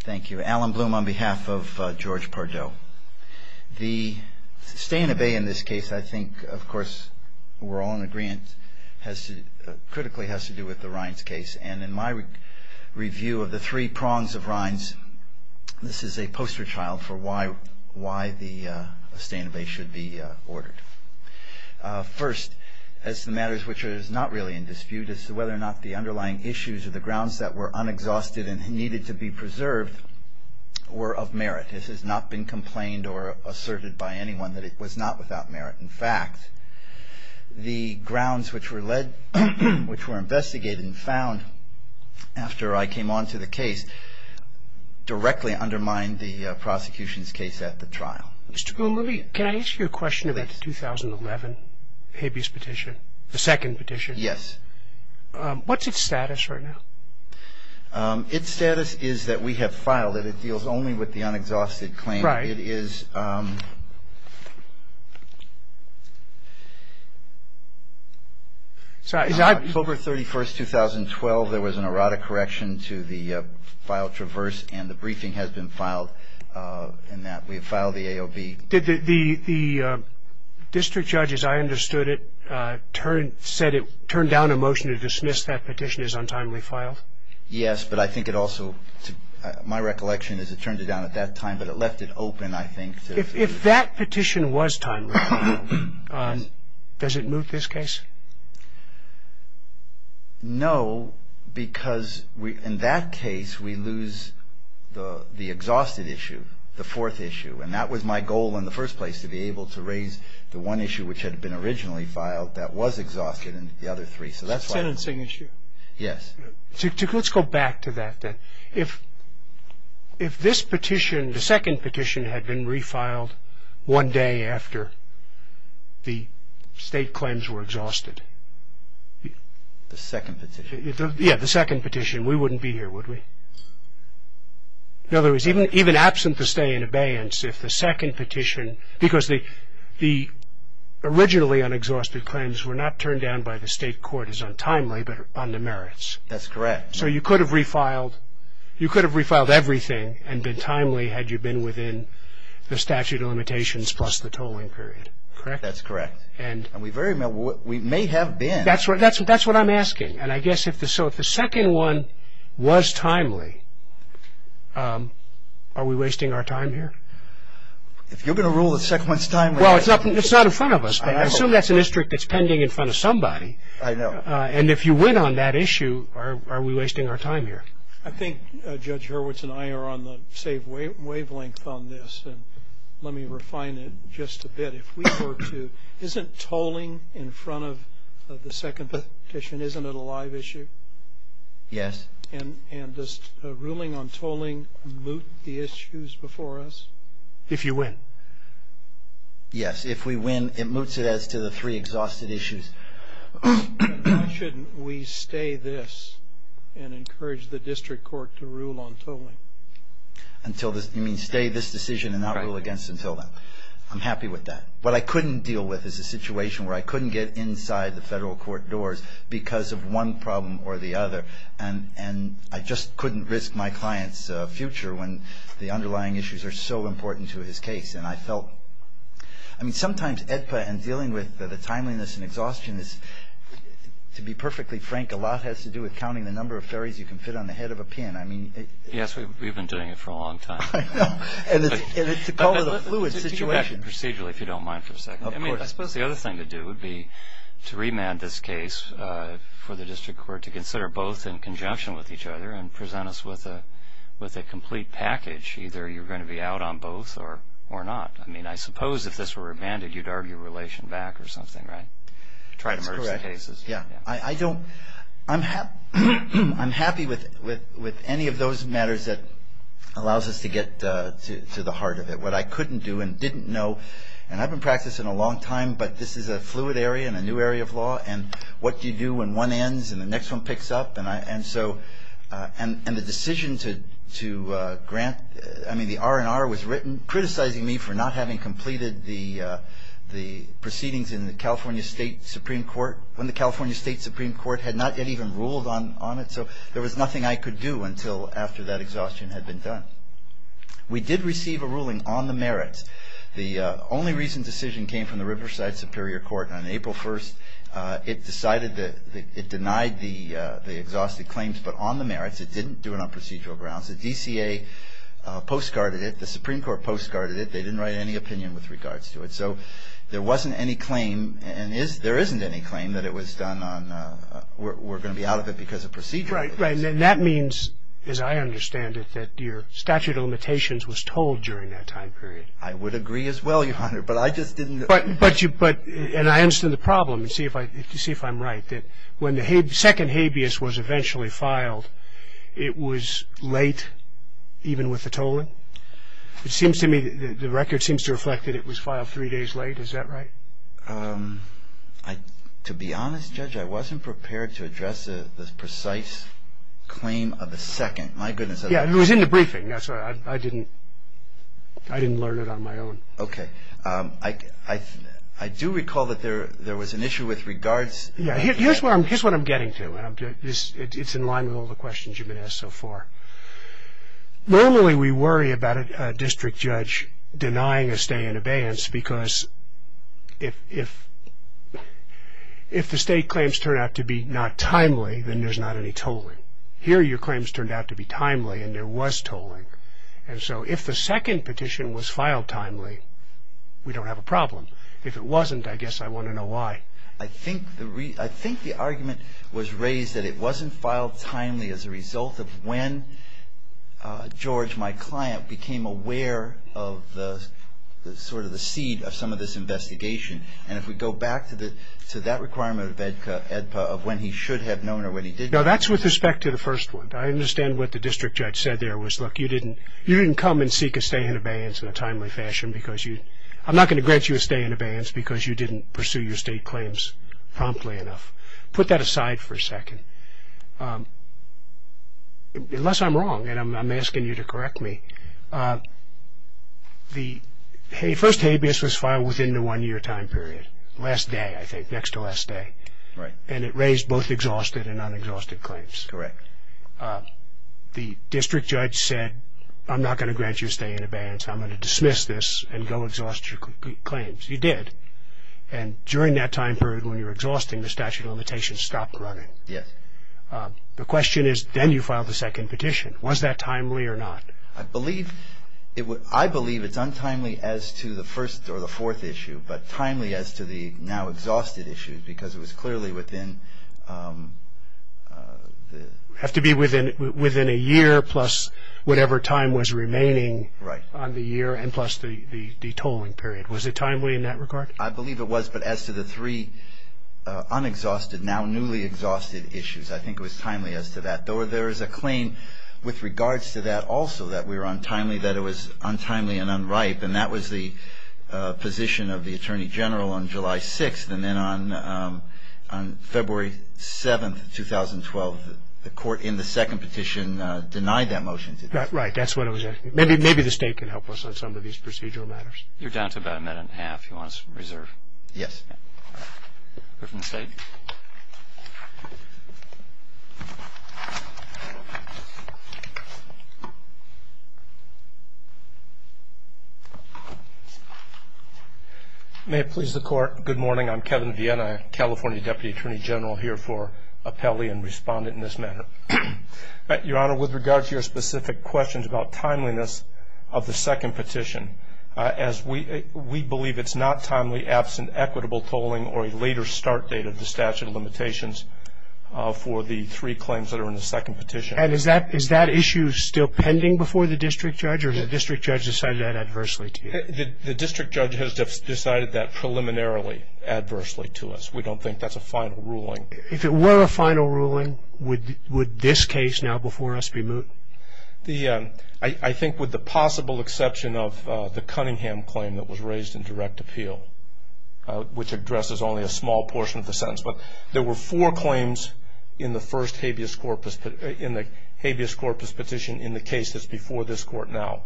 Thank you. Alan Bloom on behalf of George Pardo. The stay and obey in this case, I think, of course, we're all in agreement, critically has to do with the Rines case. And in my review of the three prongs of Rines, this is a poster child for why the stay and obey should be ordered. First, as to the matters which are not really in dispute, as to whether or not the underlying issues or the grounds that were unexhausted and needed to be preserved were of merit. This has not been complained or asserted by anyone that it was not without merit. In fact, the grounds which were led, which were investigated and found after I came on to the case directly undermined the prosecution's case at the trial. Mr. Bloom, let me, can I ask you a question about the 2011 habeas petition, the second petition? Yes. What's its status right now? Its status is that we have filed it. It deals only with the unexhausted claim. Right. It is October 31st, 2012. There was an erratic correction to the file traverse, and the briefing has been filed in that. We have filed the AOB. Did the district judge, as I understood it, turn down a motion to dismiss that petition as untimely filed? Yes, but I think it also, my recollection is it turned it down at that time, but it left it open, I think. If that petition was timely, does it move this case? No, because in that case we lose the exhausted issue, the fourth issue, and that was my goal in the first place, to be able to raise the one issue which had been originally filed that was exhausted and the other three. The sentencing issue? Yes. Let's go back to that then. If this petition, the second petition, had been refiled one day after the state claims were exhausted. The second petition? Yes, the second petition, we wouldn't be here, would we? In other words, even absent the stay in abeyance, if the second petition, because the originally unexhausted claims were not turned down by the state court as untimely, but on the merits. That's correct. So you could have refiled everything and been timely had you been within the statute of limitations plus the tolling period, correct? That's correct. We may have been. That's what I'm asking. So if the second one was timely, are we wasting our time here? If you're going to rule the second one's timely. Well, it's not in front of us, but I assume that's an district that's pending in front of somebody. I know. And if you win on that issue, are we wasting our time here? I think Judge Hurwitz and I are on the same wavelength on this, and let me refine it just a bit. Isn't tolling in front of the second petition, isn't it a live issue? Yes. And does ruling on tolling moot the issues before us? If you win. Yes. If we win, it moots it as to the three exhausted issues. Why shouldn't we stay this and encourage the district court to rule on tolling? You mean stay this decision and not rule against until then? Right. I'm happy with that. What I couldn't deal with is a situation where I couldn't get inside the federal court doors because of one problem or the other, and I just couldn't risk my client's future when the underlying issues are so important to his case. And I felt, I mean, sometimes AEDPA and dealing with the timeliness and exhaustion is, to be perfectly frank, a lot has to do with counting the number of ferries you can fit on the head of a pin. Yes, we've been doing it for a long time. I know. And it's a call to the fluid situation. Get back to procedural, if you don't mind, for a second. Of course. I suppose the other thing to do would be to remand this case for the district court to consider both in conjunction with each other and present us with a complete package. Either you're going to be out on both or not. I mean, I suppose if this were remanded, you'd argue relation back or something, right? That's correct. Try to merge the cases. I'm happy with any of those matters that allows us to get to the heart of it. What I couldn't do and didn't know, and I've been practicing a long time, but this is a fluid area and a new area of law, and what do you do when one ends and the next one picks up? And the decision to grant, I mean, the R&R was written criticizing me for not having completed the proceedings in the California State Supreme Court when the California State Supreme Court had not yet even ruled on it. So there was nothing I could do until after that exhaustion had been done. We did receive a ruling on the merits. The only recent decision came from the Riverside Superior Court on April 1st. It decided that it denied the exhausted claims, but on the merits. It didn't do it on procedural grounds. The DCA postcarded it. The Supreme Court postcarded it. They didn't write any opinion with regards to it. So there wasn't any claim, and there isn't any claim that it was done on, we're going to be out of it because of procedural reasons. Right, right, and that means, as I understand it, that your statute of limitations was told during that time period. I would agree as well, Your Honor, but I just didn't. But you, and I understand the problem, and see if I'm right, that when the second habeas was eventually filed, it was late even with the tolling. It seems to me, the record seems to reflect that it was filed three days late. Is that right? To be honest, Judge, I wasn't prepared to address the precise claim of the second. My goodness. Yeah, it was in the briefing. I didn't learn it on my own. Okay. I do recall that there was an issue with regards. Yeah, here's what I'm getting to, and it's in line with all the questions you've been asked so far. Normally, we worry about a district judge denying a stay in abeyance because if the state claims turn out to be not timely, then there's not any tolling. Here, your claims turned out to be timely, and there was tolling. And so if the second petition was filed timely, we don't have a problem. If it wasn't, I guess I want to know why. I think the argument was raised that it wasn't filed timely as a result of when George, my client, became aware of sort of the seed of some of this investigation. And if we go back to that requirement of when he should have known or when he didn't. No, that's with respect to the first one. I understand what the district judge said there was, look, you didn't come and seek a stay in abeyance in a timely fashion because you – Put that aside for a second. Unless I'm wrong, and I'm asking you to correct me. The first habeas was filed within the one-year time period. Last day, I think, next to last day. Right. And it raised both exhausted and unexhausted claims. Correct. The district judge said, I'm not going to grant you a stay in abeyance. I'm going to dismiss this and go exhaust your claims. You did. And during that time period when you were exhausting, the statute of limitations stopped running. Yes. The question is, then you filed the second petition. Was that timely or not? I believe it's untimely as to the first or the fourth issue, but timely as to the now exhausted issue because it was clearly within the – It would have to be within a year plus whatever time was remaining on the year and plus the tolling period. Was it timely in that regard? I believe it was, but as to the three unexhausted, now newly exhausted issues, I think it was timely as to that. There is a claim with regards to that also that we were untimely, that it was untimely and unripe, and that was the position of the Attorney General on July 6th. And then on February 7th, 2012, the court in the second petition denied that motion. Right. That's what it was asking. Maybe the State can help us on some of these procedural matters. You're down to about a minute and a half if you want to reserve. Yes. We're from the State. May it please the Court, good morning. I'm Kevin Vienna, California Deputy Attorney General, here for appellee and respondent in this matter. Your Honor, with regard to your specific questions about timeliness of the second petition, as we believe it's not timely, absent, equitable tolling, or a later start date of the statute of limitations for the three claims that are in the second petition. And is that issue still pending before the district judge, or has the district judge decided that adversely to you? The district judge has decided that preliminarily adversely to us. We don't think that's a final ruling. If it were a final ruling, would this case now before us be moot? I think with the possible exception of the Cunningham claim that was raised in direct appeal, which addresses only a small portion of the sentence. But there were four claims in the first habeas corpus, in the habeas corpus petition, in the case that's before this Court now.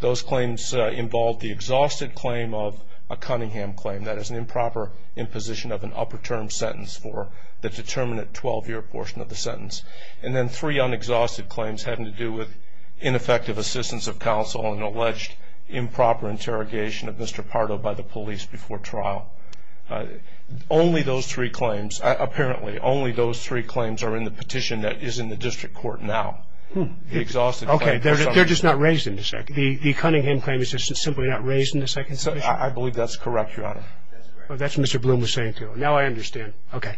Those claims involved the exhausted claim of a Cunningham claim, that is an improper imposition of an upper term sentence for the determinate 12-year portion of the sentence. And then three unexhausted claims having to do with ineffective assistance of counsel and alleged improper interrogation of Mr. Pardo by the police before trial. Only those three claims, apparently, only those three claims are in the petition that is in the district court now. Okay, they're just not raised in the second. The Cunningham claim is just simply not raised in the second petition? I believe that's correct, Your Honor. That's what Mr. Bloom was saying, too. Now I understand. Okay.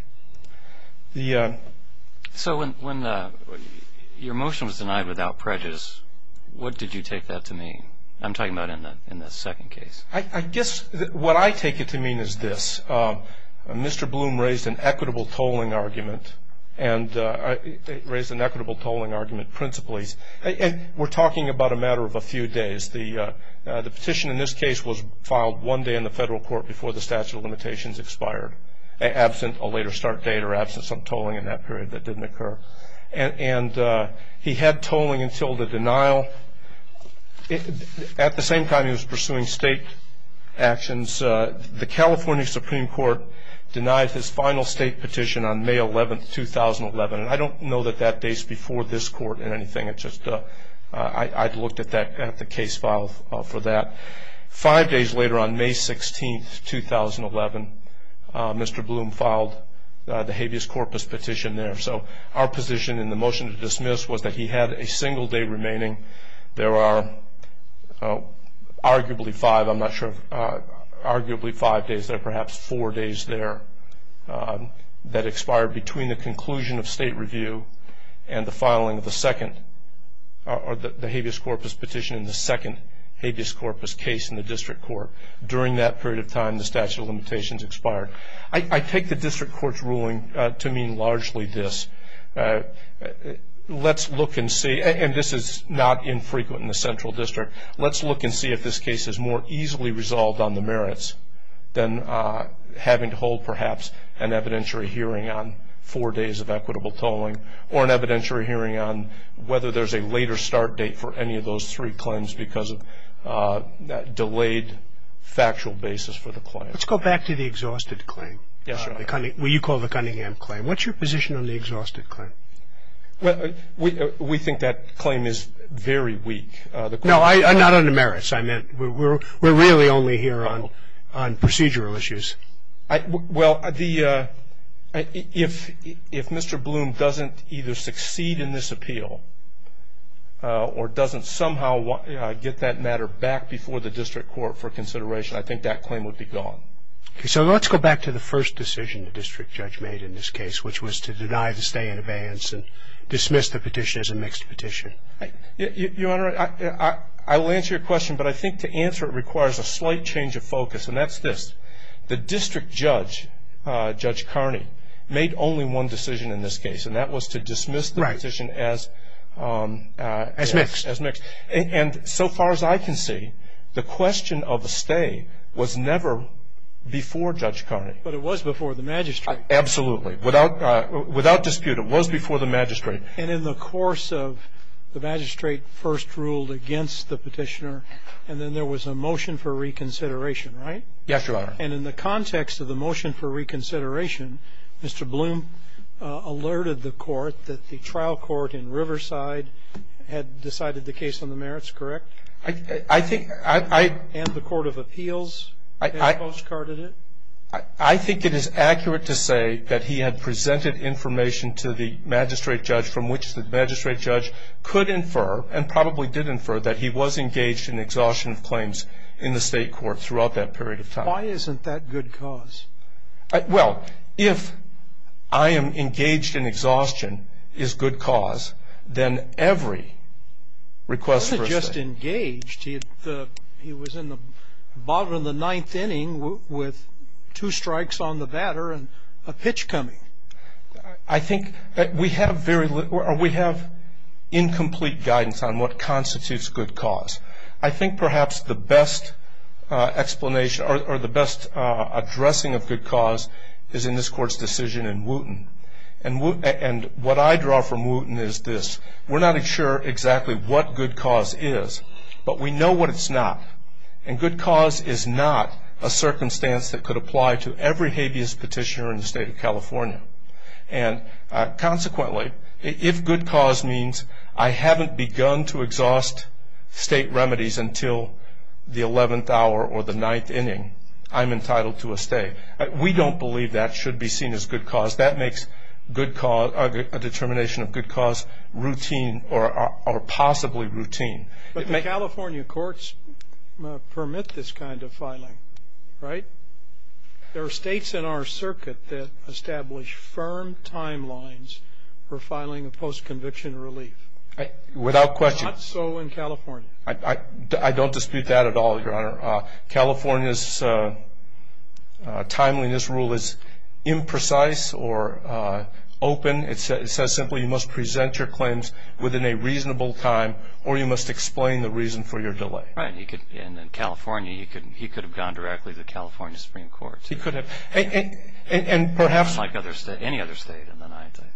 So when your motion was denied without prejudice, what did you take that to mean? I'm talking about in the second case. I guess what I take it to mean is this. Mr. Bloom raised an equitable tolling argument, and raised an equitable tolling argument principally. We're talking about a matter of a few days. The petition in this case was filed one day in the federal court before the statute of limitations expired, absent a later start date or absent some tolling in that period that didn't occur. And he had tolling until the denial. At the same time he was pursuing state actions, the California Supreme Court denied his final state petition on May 11, 2011. And I don't know that that dates before this court in anything. I looked at the case file for that. Five days later on May 16, 2011, Mr. Bloom filed the habeas corpus petition there. So our position in the motion to dismiss was that he had a single day remaining. There are arguably five days there, perhaps four days there, that expired between the conclusion of state review and the filing of the second, or the habeas corpus petition in the second habeas corpus case in the district court. During that period of time the statute of limitations expired. I take the district court's ruling to mean largely this. Let's look and see, and this is not infrequent in the central district, let's look and see if this case is more easily resolved on the merits than having to hold perhaps an evidentiary hearing on four days of equitable tolling or an evidentiary hearing on whether there's a later start date for any of those three claims because of that delayed factual basis for the claim. Let's go back to the exhausted claim, what you call the Cunningham claim. What's your position on the exhausted claim? Well, we think that claim is very weak. No, not on the merits. I meant we're really only here on procedural issues. Well, if Mr. Bloom doesn't either succeed in this appeal or doesn't somehow get that matter back before the district court for consideration, I think that claim would be gone. So let's go back to the first decision the district judge made in this case, which was to deny the stay in advance and dismiss the petition as a mixed petition. Your Honor, I will answer your question, but I think to answer it requires a slight change of focus, and that's this. The district judge, Judge Carney, made only one decision in this case, and that was to dismiss the petition as mixed. And so far as I can see, the question of a stay was never before Judge Carney. But it was before the magistrate. Absolutely. Without dispute, it was before the magistrate. And in the course of the magistrate first ruled against the petitioner and then there was a motion for reconsideration, right? Yes, Your Honor. And in the context of the motion for reconsideration, Mr. Bloom alerted the court that the trial court in Riverside had decided the case on the merits, correct? I think I — And the court of appeals had postcarded it? I think it is accurate to say that he had presented information to the magistrate judge from which the magistrate judge could infer and probably did infer that he was engaged in exhaustion of claims in the state court throughout that period of time. Why isn't that good cause? Well, if I am engaged in exhaustion is good cause, then every request for a stay — He was in the bottom of the ninth inning with two strikes on the batter and a pitch coming. I think that we have incomplete guidance on what constitutes good cause. I think perhaps the best explanation or the best addressing of good cause is in this court's decision in Wooten. And what I draw from Wooten is this. We're not sure exactly what good cause is, but we know what it's not. And good cause is not a circumstance that could apply to every habeas petitioner in the state of California. And consequently, if good cause means I haven't begun to exhaust state remedies until the 11th hour or the ninth inning, I'm entitled to a stay. We don't believe that should be seen as good cause. That makes a determination of good cause routine or possibly routine. But the California courts permit this kind of filing, right? There are states in our circuit that establish firm timelines for filing a post-conviction relief. Without question. Not so in California. I don't dispute that at all, Your Honor. California's timeliness rule is imprecise or open. It says simply you must present your claims within a reasonable time or you must explain the reason for your delay. Right. And in California, he could have gone directly to the California Supreme Court. He could have. Unlike any other state in the United States.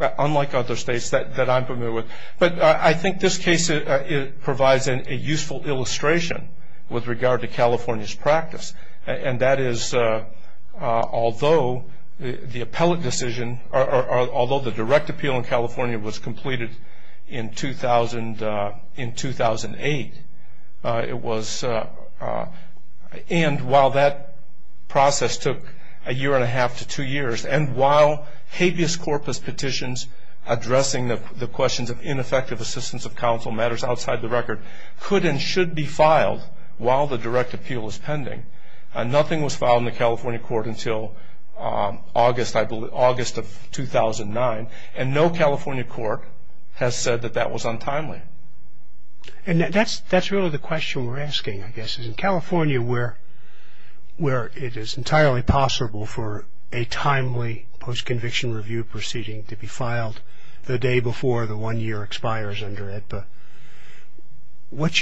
Unlike other states that I'm familiar with. But I think this case provides a useful illustration with regard to California's practice. And that is although the direct appeal in California was completed in 2008, and while that process took a year and a half to two years, and while habeas corpus petitions addressing the questions of ineffective assistance of counsel and matters outside the record could and should be filed while the direct appeal is pending, nothing was filed in the California court until August of 2009. And no California court has said that that was untimely. And that's really the question we're asking, I guess, is in California where it is entirely possible for a timely post-conviction review proceeding to be filed the day before the one year expires under AEDPA. What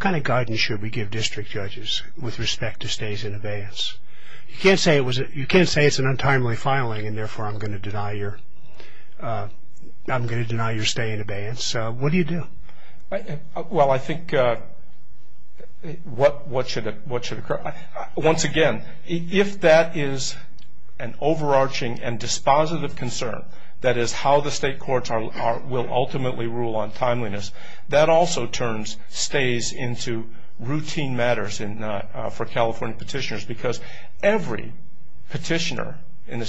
kind of guidance should we give district judges with respect to stays in abeyance? You can't say it's an untimely filing and, therefore, I'm going to deny your stay in abeyance. What do you do? Well, I think what should occur? Once again, if that is an overarching and dispositive concern, that is how the state courts will ultimately rule on timeliness, that also turns stays into routine matters for California petitioners because every petitioner,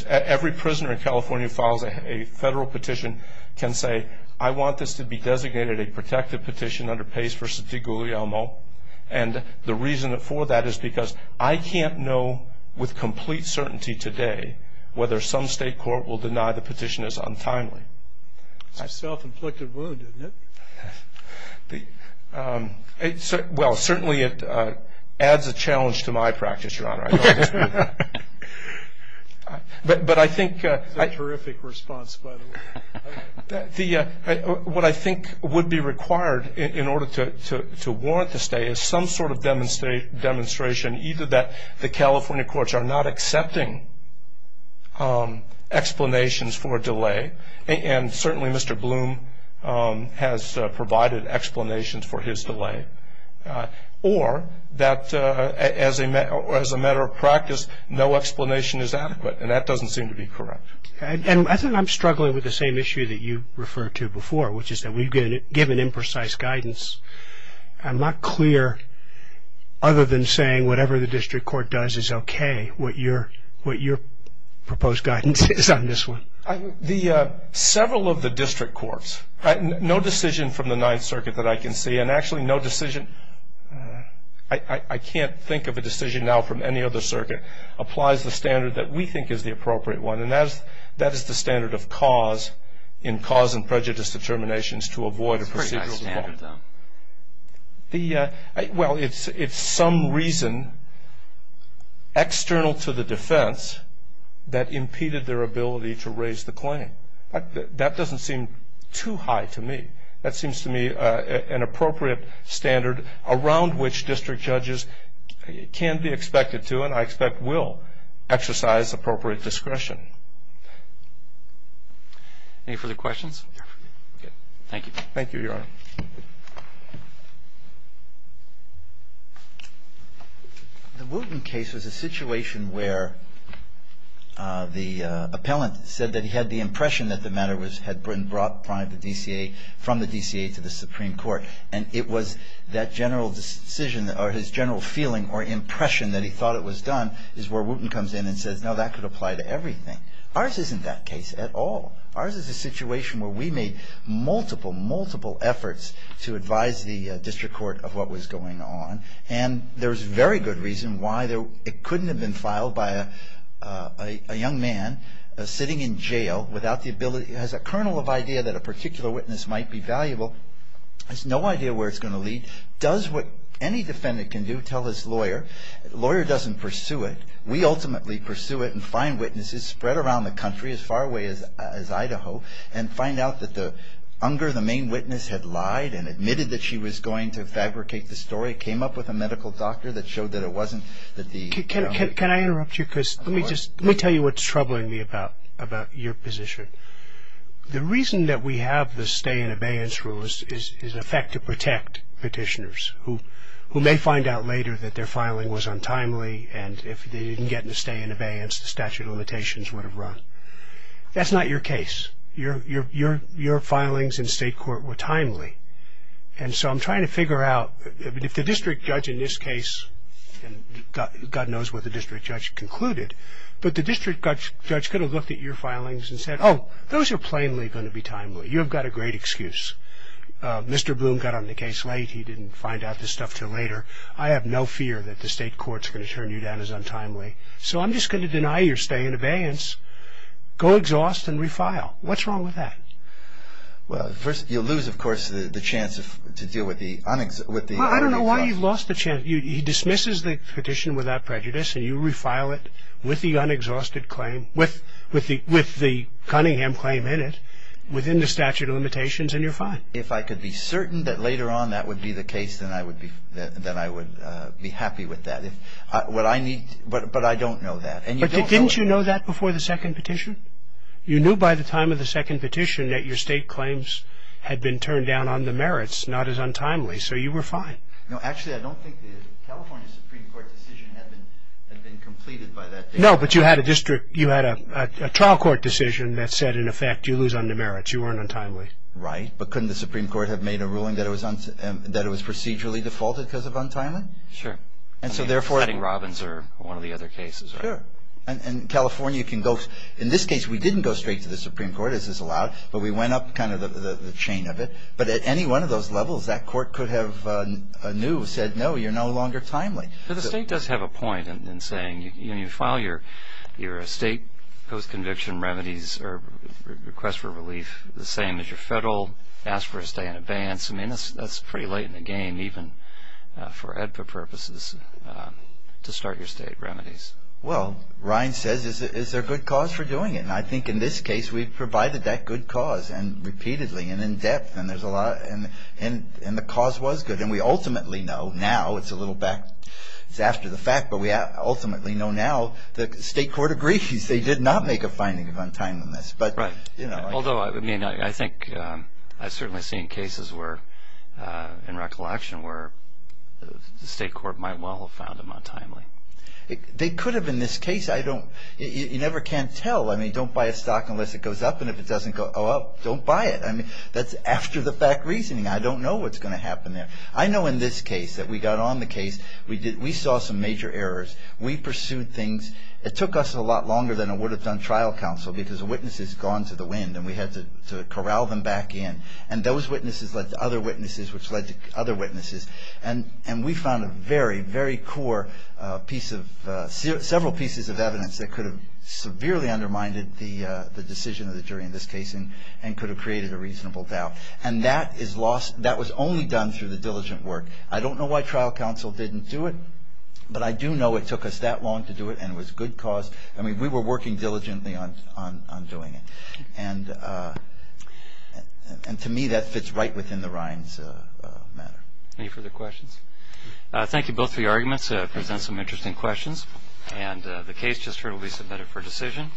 every prisoner in California who files a federal petition can say, I want this to be designated a protective petition under Pace v. DeGuglielmo. And the reason for that is because I can't know with complete certainty today whether some state court will deny the petition is untimely. It's a self-inflicted wound, isn't it? Well, certainly it adds a challenge to my practice, Your Honor. It's a terrific response, by the way. What I think would be required in order to warrant the stay is some sort of demonstration, either that the California courts are not accepting explanations for a delay, and certainly Mr. Bloom has provided explanations for his delay, or that as a matter of practice, no explanation is adequate, and that doesn't seem to be correct. And I think I'm struggling with the same issue that you referred to before, which is that we've given imprecise guidance. I'm not clear, other than saying whatever the district court does is okay, what your proposed guidance is on this one. Several of the district courts, no decision from the Ninth Circuit that I can see, and actually no decision, I can't think of a decision now from any other circuit, applies the standard that we think is the appropriate one, and that is the standard of cause in cause and prejudice determinations to avoid a procedural default. It's a pretty high standard, though. Well, it's some reason external to the defense that impeded their ability to raise the claim. That doesn't seem too high to me. That seems to me an appropriate standard around which district judges can be expected to, and I expect will, exercise appropriate discretion. Any further questions? Okay. Thank you. Thank you, Your Honor. The Wooten case was a situation where the appellant said that he had the impression that the matter was had been brought by the DCA from the DCA to the Supreme Court, and it was that general decision or his general feeling or impression that he thought it was done, is where Wooten comes in and says, no, that could apply to everything. Ours isn't that case at all. Ours is a situation where we made multiple, multiple efforts to advise the district court of what was going on, and there's very good reason why it couldn't have been filed by a young man sitting in jail without the ability, has a kernel of idea that a particular witness might be valuable, has no idea where it's going to lead, does what any defendant can do, tell his lawyer. The lawyer doesn't pursue it. We ultimately pursue it and find witnesses spread around the country as far away as Idaho and find out that the, under the main witness had lied and admitted that she was going to fabricate the story, came up with a medical doctor that showed that it wasn't that the, you know. The reason that we have the stay in abeyance rule is in effect to protect petitioners who may find out later that their filing was untimely and if they didn't get the stay in abeyance the statute of limitations would have run. That's not your case. Your filings in state court were timely. And so I'm trying to figure out if the district judge in this case, and God knows what the district judge concluded, but the district judge could have looked at your filings and said, oh, those are plainly going to be timely. You've got a great excuse. Mr. Bloom got on the case late. He didn't find out this stuff until later. I have no fear that the state court's going to turn you down as untimely. So I'm just going to deny your stay in abeyance. Go exhaust and refile. What's wrong with that? Well, first, you lose, of course, the chance to deal with the un-exhaust. Well, I don't know why you've lost the chance. He dismisses the petition without prejudice, and you refile it with the un-exhausted claim, with the Cunningham claim in it, within the statute of limitations, and you're fine. If I could be certain that later on that would be the case, then I would be happy with that. But I don't know that. But didn't you know that before the second petition? You knew by the time of the second petition that your state claims had been turned down on the merits, not as untimely, so you were fine. No, actually, I don't think the California Supreme Court decision had been completed by that date. No, but you had a trial court decision that said, in effect, you lose on the merits. You weren't untimely. Right. But couldn't the Supreme Court have made a ruling that it was procedurally defaulted because of untimely? Sure. And so, therefore – I mean, setting Robbins or one of the other cases, right? Sure. And California can go – in this case, we didn't go straight to the Supreme Court, as is allowed, but we went up kind of the chain of it. But at any one of those levels, that court could have anew said, no, you're no longer timely. But the state does have a point in saying, you file your state post-conviction remedies or request for relief the same as your federal, ask for a stay in advance. I mean, that's pretty late in the game, even for EDPA purposes, to start your state remedies. Well, Ryan says, is there a good cause for doing it? And I think in this case, we've provided that good cause, and repeatedly and in depth, and there's a lot – and the cause was good. And we ultimately know now – it's a little back – it's after the fact, but we ultimately know now the state court agrees they did not make a finding of untimeliness. Right. Although, I mean, I think I've certainly seen cases where, in recollection, where the state court might well have found them untimely. They could have in this case. You never can tell. I mean, don't buy a stock unless it goes up, and if it doesn't go up, don't buy it. I mean, that's after-the-fact reasoning. I don't know what's going to happen there. I know in this case that we got on the case. We saw some major errors. We pursued things. It took us a lot longer than it would have done trial counsel because the witness has gone to the wind, and we had to corral them back in. And those witnesses led to other witnesses, which led to other witnesses. And we found a very, very core piece of – several pieces of evidence that could have severely undermined the decision of the jury in this case and could have created a reasonable doubt. And that is lost – that was only done through the diligent work. I don't know why trial counsel didn't do it, but I do know it took us that long to do it, and it was good cause. I mean, we were working diligently on doing it. And to me, that fits right within the rhymes of the matter. Any further questions? Thank you both for your arguments. It presents some interesting questions. And the case just heard will be submitted for decision.